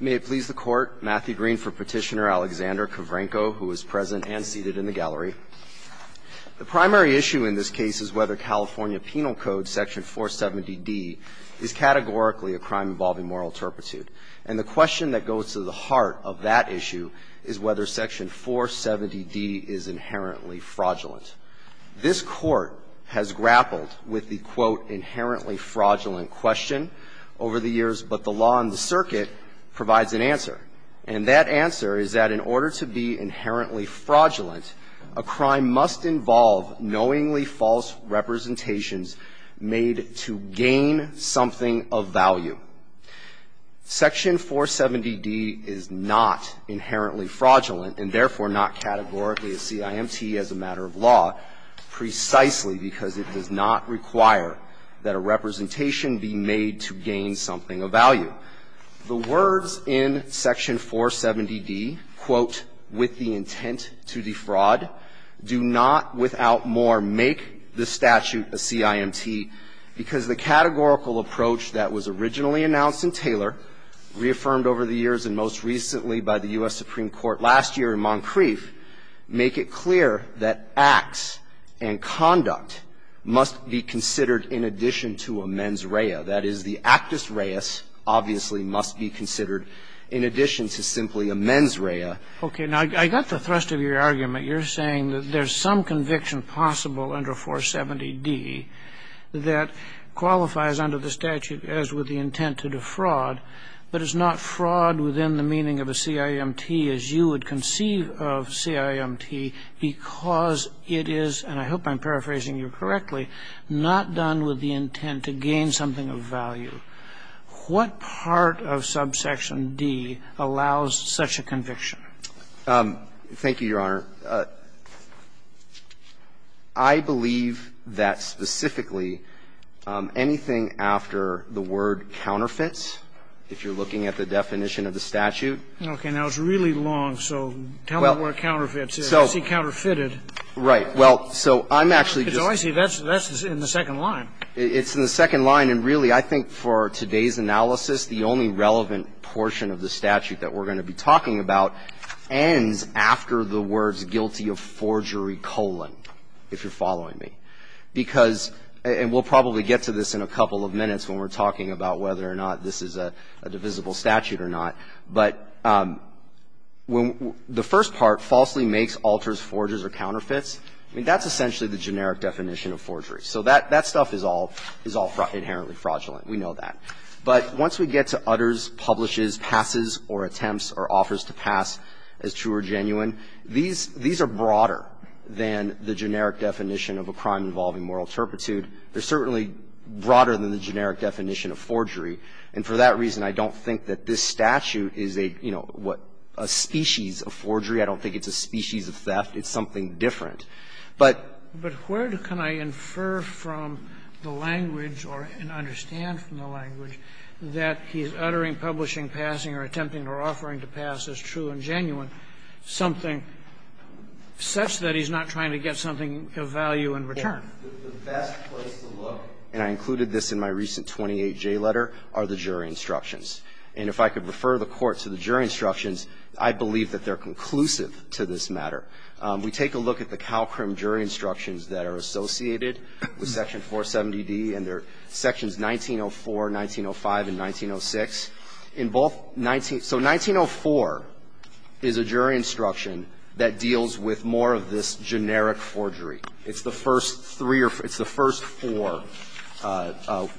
May it please the Court, Matthew Green for Petitioner, Alexander Khavrenko, who is present and seated in the gallery. The primary issue in this case is whether California Penal Code, Section 470d, is categorically a crime involving moral turpitude. And the question that goes to the heart of that issue is whether Section 470d is inherently fraudulent. This Court has grappled with the, quote, inherently fraudulent question over the years, but the law and the circuit provides an answer. And that answer is that in order to be inherently fraudulent, a crime must involve knowingly false representations made to gain something of value. Section 470d is not inherently fraudulent and therefore not categorically a CIMT as a matter of law, precisely because it does not require that a representation be made to gain something of value. The words in Section 470d, quote, with the intent to defraud, do not, without more, make the statute a CIMT, because the categorical approach that was originally announced in Taylor, reaffirmed over the years and most recently by the U.S. Supreme Court, that a CIMT must be considered in addition to simply a mens rea. That is, the actus reis obviously must be considered in addition to simply a mens rea. Okay. Now, I got the thrust of your argument. You're saying that there's some conviction possible under 470d that qualifies under the statute as with the intent to defraud, but it's not fraud within the meaning of a CIMT as you would conceive of CIMT, because it is, and I hope I'm paraphrasing you correctly, not done with the intent to gain something of value. What part of subsection d allows such a conviction? Thank you, Your Honor. I believe that specifically anything after the word counterfeits, if you're looking at the definition of the statute. Okay. Now, it's really long, so tell me what counterfeits is. Is he counterfeited? Right. Well, so I'm actually just going to say that's in the second line. It's in the second line, and really, I think for today's analysis, the only relevant portion of the statute that we're going to be talking about ends after the words guilty of forgery colon, if you're following me. Because, and we'll probably get to this in a couple of minutes when we're talking about whether or not this is a divisible statute or not, but when the first part, falsely makes, alters, forges, or counterfeits, I mean, that's essentially the generic definition of forgery. So that stuff is all inherently fraudulent. We know that. But once we get to utters, publishes, passes, or attempts, or offers to pass as true or genuine, these are broader than the generic definition of a crime involving moral turpitude. They're certainly broader than the generic definition of forgery. And for that reason, I don't think that this statute is a, you know, what, a species of forgery. I don't think it's a species of theft. It's something different. But where can I infer from the language or understand from the language that he's uttering, publishing, passing, or attempting, or offering to pass as true and genuine something such that he's not trying to get something of value in return? The best place to look, and I included this in my recent 28J letter, are the jury instructions. And if I could refer the Court to the jury instructions, I believe that they're conclusive to this matter. We take a look at the Calcrim jury instructions that are associated with Section 470d and their sections 1904, 1905, and 1906. In both 19 so 1904 is a jury instruction that deals with more of this generic forgery. It's the first three or it's the first four,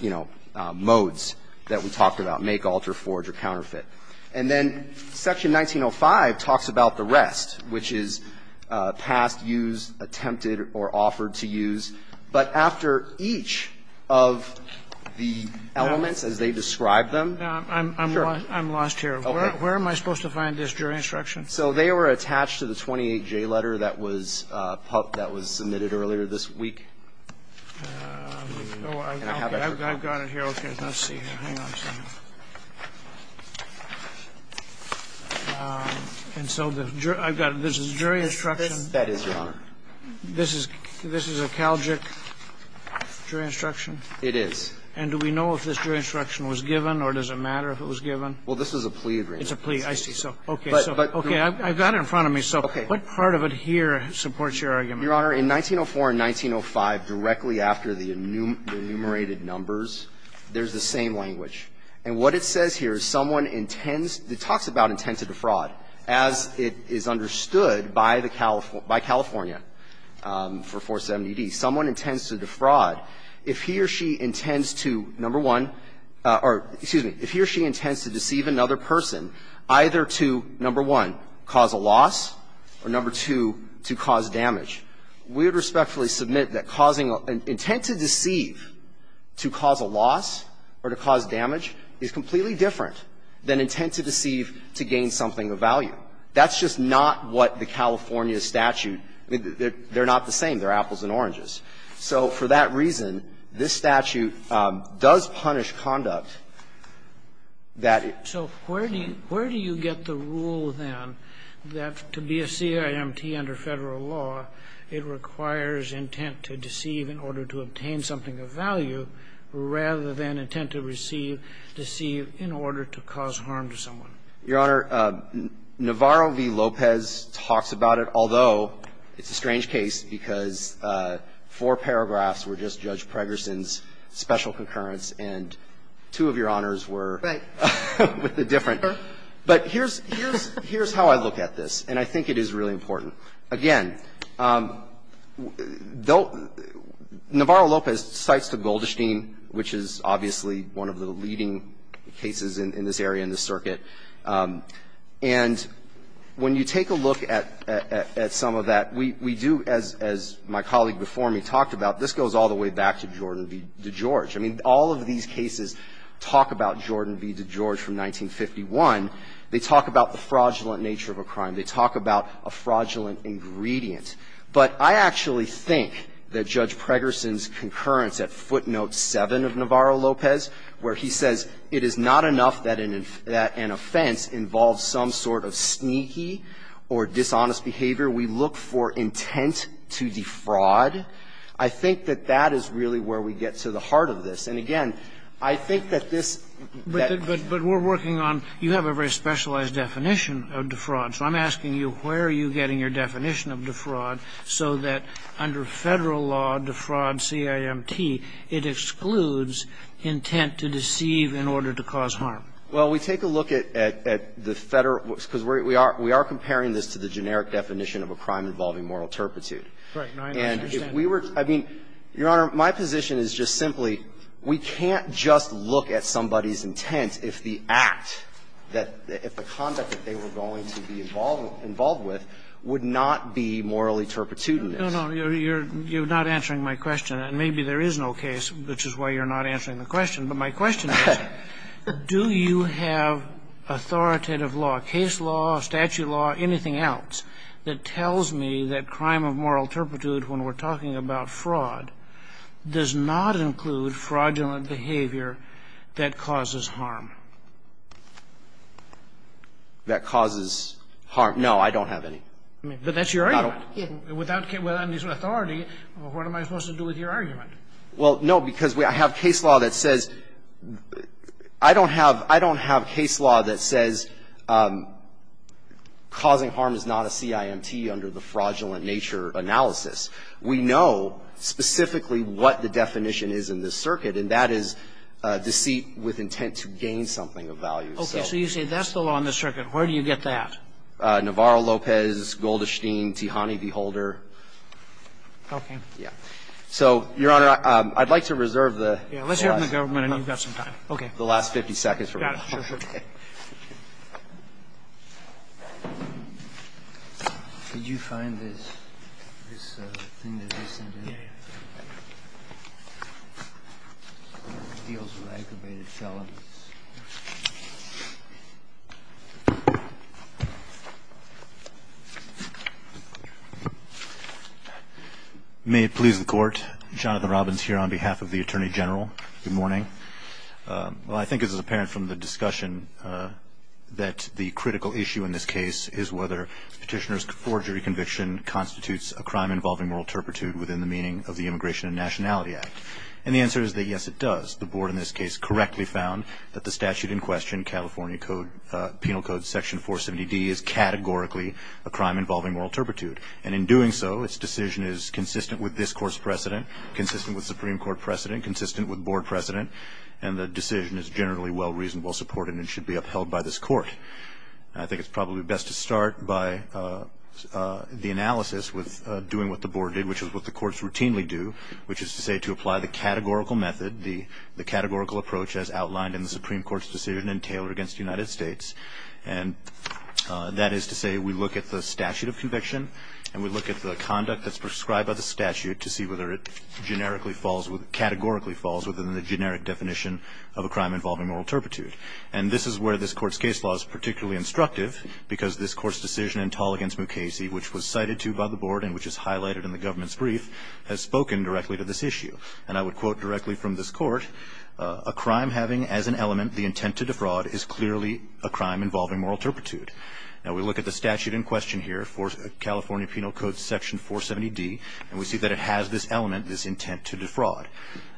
you know, modes that we talked about, make, alter, forge, or counterfeit. And then Section 1905 talks about the rest, which is passed, used, attempted, or offered to use. But after each of the elements as they describe them. I'm lost here. Where am I supposed to find this jury instruction? So they were attached to the 28J letter that was submitted earlier this week. I've got it here. Okay. Let's see. Hang on a second. And so I've got this jury instruction. That is, Your Honor. This is a Calgic jury instruction? It is. And do we know if this jury instruction was given or does it matter if it was given? Well, this is a plea agreement. It's a plea. I see. So, okay. I've got it in front of me. So what part of it here supports your argument? Your Honor, in 1904 and 1905, directly after the enumerated numbers, there's the same language. And what it says here is someone intends to talk about intent to defraud, as it is understood by the California, by California for 470D. Someone intends to defraud if he or she intends to, number one, or excuse me, if he or she intends to deceive another person, either to, number one, cause a loss or, number two, to cause damage. We would respectfully submit that causing an intent to deceive to cause a loss or to cause damage is completely different than intent to deceive to gain something of value. That's just not what the California statute they're not the same. They're apples and oranges. So for that reason, this statute does punish conduct that it So where do you get the rule then that to be a CIMT under Federal law, it requires intent to deceive in order to obtain something of value rather than intent to receive, deceive in order to cause harm to someone? Your Honor, Navarro v. Lopez talks about it, although it's a strange case because the four paragraphs were just Judge Pregerson's special concurrence and two of your honors were with a different. But here's how I look at this, and I think it is really important. Again, Navarro-Lopez cites the Goldstein, which is obviously one of the leading cases in this area in the circuit. And when you take a look at some of that, we do, as my colleague before me talked about, this goes all the way back to Jordan v. DeGeorge. I mean, all of these cases talk about Jordan v. DeGeorge from 1951. They talk about the fraudulent nature of a crime. They talk about a fraudulent ingredient. But I actually think that Judge Pregerson's concurrence at footnote 7 of Navarro-Lopez, where he says it is not enough that an offense involves some sort of sneaky or dishonest behavior, we look for intent to defraud, I think that that is really where we get to the heart of this. And again, I think that this that we're working on, you have a very specialized definition of defraud. So I'm asking you where are you getting your definition of defraud so that under Federal law, defraud, CIMT, it excludes intent to deceive in order to cause harm? Well, we take a look at the Federal, because we are comparing this to the generic definition of a crime involving moral turpitude. And if we were, I mean, Your Honor, my position is just simply we can't just look at somebody's intent if the act that, if the conduct that they were going to be involved with would not be morally turpitudinous. No, no, you're not answering my question. And maybe there is no case, which is why you're not answering the question. But my question is, do you have authoritative law, case law, statute law, anything else that tells me that crime of moral turpitude, when we're talking about fraud, does not include fraudulent behavior that causes harm? That causes harm? No, I don't have any. But that's your argument. Without any sort of authority, what am I supposed to do with your argument? Well, no, because we have case law that says, I don't have, I don't have case law that says causing harm is not a CIMT under the fraudulent nature analysis. We know specifically what the definition is in this circuit, and that is deceit with intent to gain something of value. Okay, so you say that's the law in this circuit. Where do you get that? Navarro, Lopez, Goldestein, Tihani, V. Holder. Okay. Yeah. So, Your Honor, I'd like to reserve the last 50 seconds for rebuttal. Got it. Sure, sure. Did you find this thing that they sent in? Yeah, yeah. Deals with aggravated felonies. May it please the Court. Jonathan Robbins here on behalf of the Attorney General. Good morning. Well, I think it's apparent from the discussion that the critical issue in this case is whether Petitioner's forgery conviction constitutes a crime involving moral turpitude within the meaning of the Immigration and Nationality Act. And the answer is that yes, it does. The Board in this case correctly found that the statute in question, California Code, Penal Code Section 470D, is categorically a crime involving moral turpitude. And in doing so, its decision is consistent with this Court's precedent, consistent with Supreme Court precedent, consistent with Board precedent. And the decision is generally well-reasoned, well-supported, and should be upheld by this Court. I think it's probably best to start by the analysis with doing what the Board did, which is what the courts routinely do, which is to say to apply the categorical method, the categorical approach as outlined in the Supreme Court's decision in Taylor against the United States, and that is to say we look at the statute of conviction. And we look at the conduct that's prescribed by the statute to see whether it categorically falls within the generic definition of a crime involving moral turpitude. And this is where this Court's case law is particularly instructive, because this Court's decision in Tall against Mukasey, which was cited to by the Board and which is highlighted in the government's brief, has spoken directly to this issue. And I would quote directly from this Court, a crime having as an element the intent to defraud is clearly a crime involving moral turpitude. Now we look at the statute in question here, California Penal Code Section 470D, and we see that it has this element, this intent to defraud.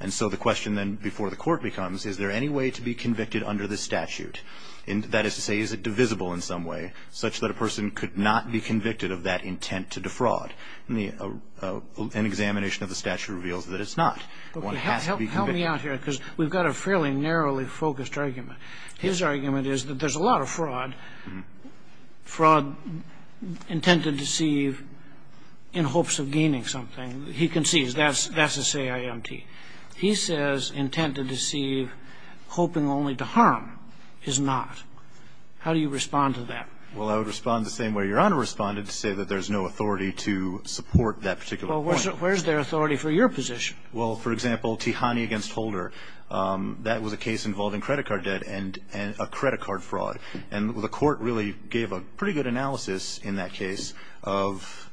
And so the question then before the court becomes, is there any way to be convicted under this statute? And that is to say, is it divisible in some way, such that a person could not be convicted of that intent to defraud? An examination of the statute reveals that it's not. One has to be convicted. Scalia, help me out here, because we've got a fairly narrowly focused argument. His argument is that there's a lot of fraud, fraud intended to deceive in hopes of gaining something. He concedes that's a say-I-empty. He says intent to deceive, hoping only to harm, is not. How do you respond to that? Well, I would respond the same way Your Honor responded, to say that there's no authority to support that particular point. Well, where's their authority for your position? Well, for example, Tihani v. Holder, that was a case involving credit card debt and a credit card fraud. And the court really gave a pretty good analysis in that case of,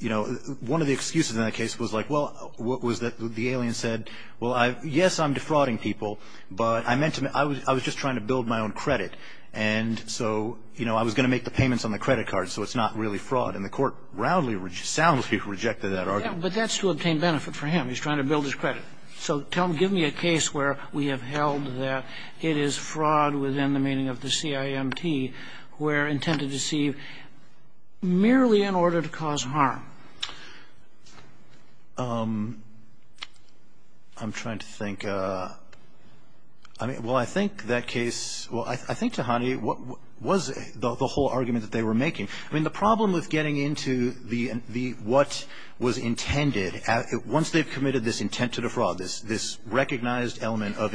you know, one of the excuses in that case was like, well, what was that the alien said? Well, yes, I'm defrauding people, but I meant to mean – I was just trying to build my own credit. And so, you know, I was going to make the payments on the credit card, so it's not really fraud. And the court rowdily, soundly rejected that argument. But that's to obtain benefit for him. He's trying to build his credit. So tell him, give me a case where we have held that it is fraud within the meaning of the say-I-empty, where intent to deceive merely in order to cause harm. I'm trying to think. I mean, well, I think that case – well, I think, Tihani, what was the whole argument that they were making? I mean, the problem with getting into the – what was intended, once they've committed this intent to defraud, this recognized element of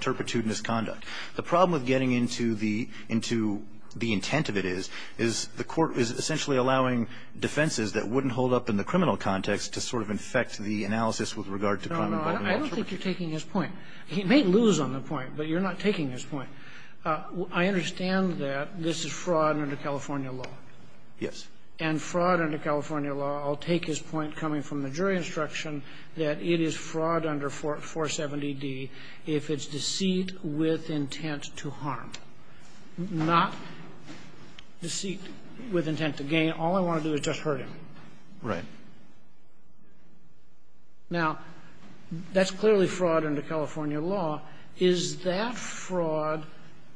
turpitude and misconduct, the problem with getting into the – into the intent of it is, is the court is essentially allowing defenses that wouldn't hold up in the criminal context to sort of infect the analysis with regard to crime involvement. I don't think you're taking his point. He may lose on the point, but you're not taking his point. I understand that this is fraud under California law. Yes. And fraud under California law, I'll take his point coming from the jury instruction, that it is fraud under 470d if it's deceit with intent to harm, not deceit with intent to gain. All I want to do is just hurt him. Right. Now, that's clearly fraud under California law. Is that fraud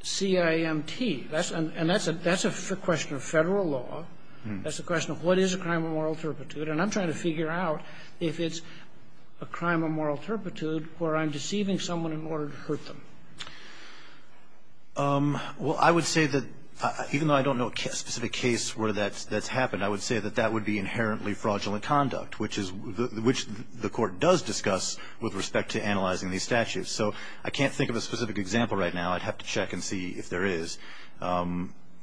CIMT? And that's a question of Federal law. That's a question of what is a crime of moral turpitude. And I'm trying to figure out if it's a crime of moral turpitude where I'm deceiving someone in order to hurt them. Well, I would say that, even though I don't know a specific case where that's happened, I would say that that would be inherently fraudulent conduct, which is the Court does discuss with respect to analyzing these statutes. So I can't think of a specific example right now. I'd have to check and see if there is.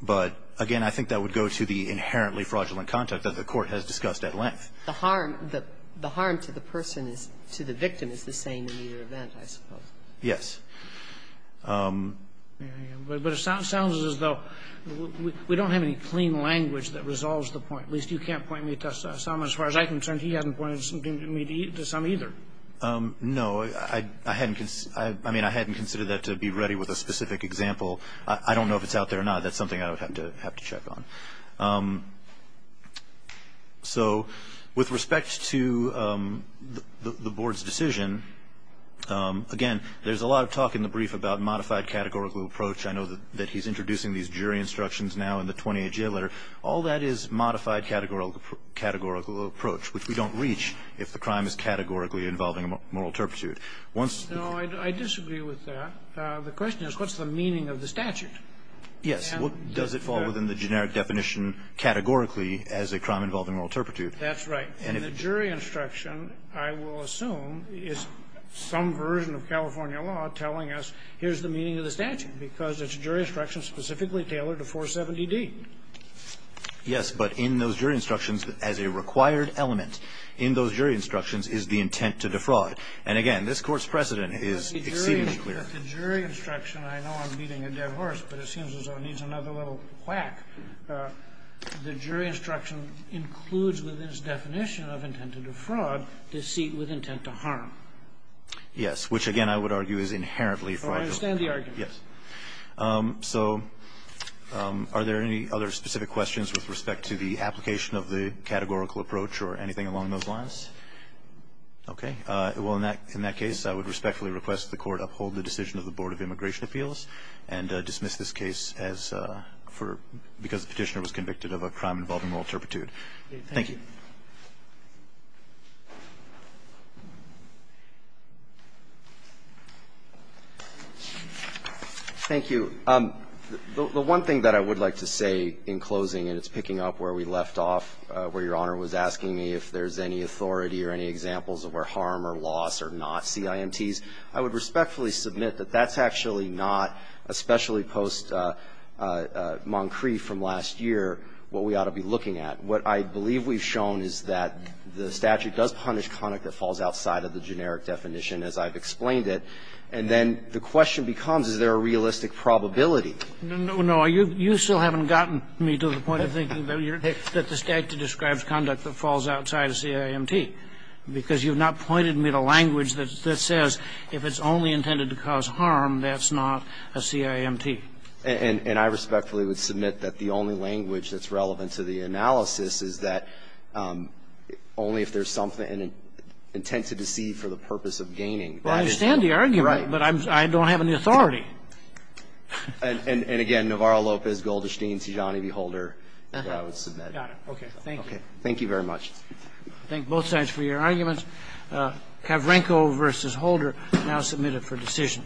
But, again, I think that would go to the inherently fraudulent conduct that the Court has discussed at length. The harm to the person is to the victim is the same in either event, I suppose. Yes. But it sounds as though we don't have any clean language that resolves the point. At least you can't point me to some, as far as I'm concerned. He hasn't pointed me to some either. No, I mean, I hadn't considered that to be ready with a specific example. I don't know if it's out there or not. That's something I would have to check on. So with respect to the Board's decision, again, there's a lot of talk in the brief about modified categorical approach. I know that he's introducing these jury instructions now in the 28th jail letter. All that is modified categorical approach, which we don't reach if the crime is categorically involving a moral turpitude. No, I disagree with that. The question is, what's the meaning of the statute? Yes. What does it fall within the generic definition categorically as a crime involving moral turpitude? That's right. And the jury instruction, I will assume, is some version of California law telling us here's the meaning of the statute, because it's a jury instruction specifically tailored to 470D. Yes. But in those jury instructions, as a required element in those jury instructions is the intent to defraud. And again, this Court's precedent is exceedingly clear. The jury instruction, I know I'm beating a dead horse, but it seems as though it needs another little whack. The jury instruction includes within its definition of intent to defraud deceit with intent to harm. Yes. Which, again, I would argue is inherently fraudulent. So I understand the argument. Yes. So are there any other specific questions with respect to the application of the categorical approach or anything along those lines? Okay. Well, in that case, I would respectfully request the Court uphold the decision of the Board of Immigration Appeals and dismiss this case as for the petitioner was convicted of a crime involving moral turpitude. Thank you. Thank you. The one thing that I would like to say in closing, and it's picking up where we left off, where Your Honor was asking me if there's any authority or any examples of where harm or loss are not CIMTs, I would respectfully submit that that's actually not, especially post-Moncrief from last year, what we ought to be looking at. What I believe we've shown is that the statute does punish conduct that falls outside of the generic definition, as I've explained it, and then the question becomes, is there a realistic probability? No. You still haven't gotten me to the point of thinking that the statute describes conduct that falls outside a CIMT, because you've not pointed me to language that says if it's only intended to cause harm, that's not a CIMT. And I respectfully would submit that the only language that's relevant to the analysis is that only if there's something intended to see for the purpose of gaining. Well, I understand the argument, but I don't have any authority. And, again, Navarro, Lopez, Golderstein, Tijani, V. Holder, that I would submit. Got it. Okay. Thank you. Thank you very much. I thank both sides for your arguments. Kavrenko v. Holder now submitted for decision.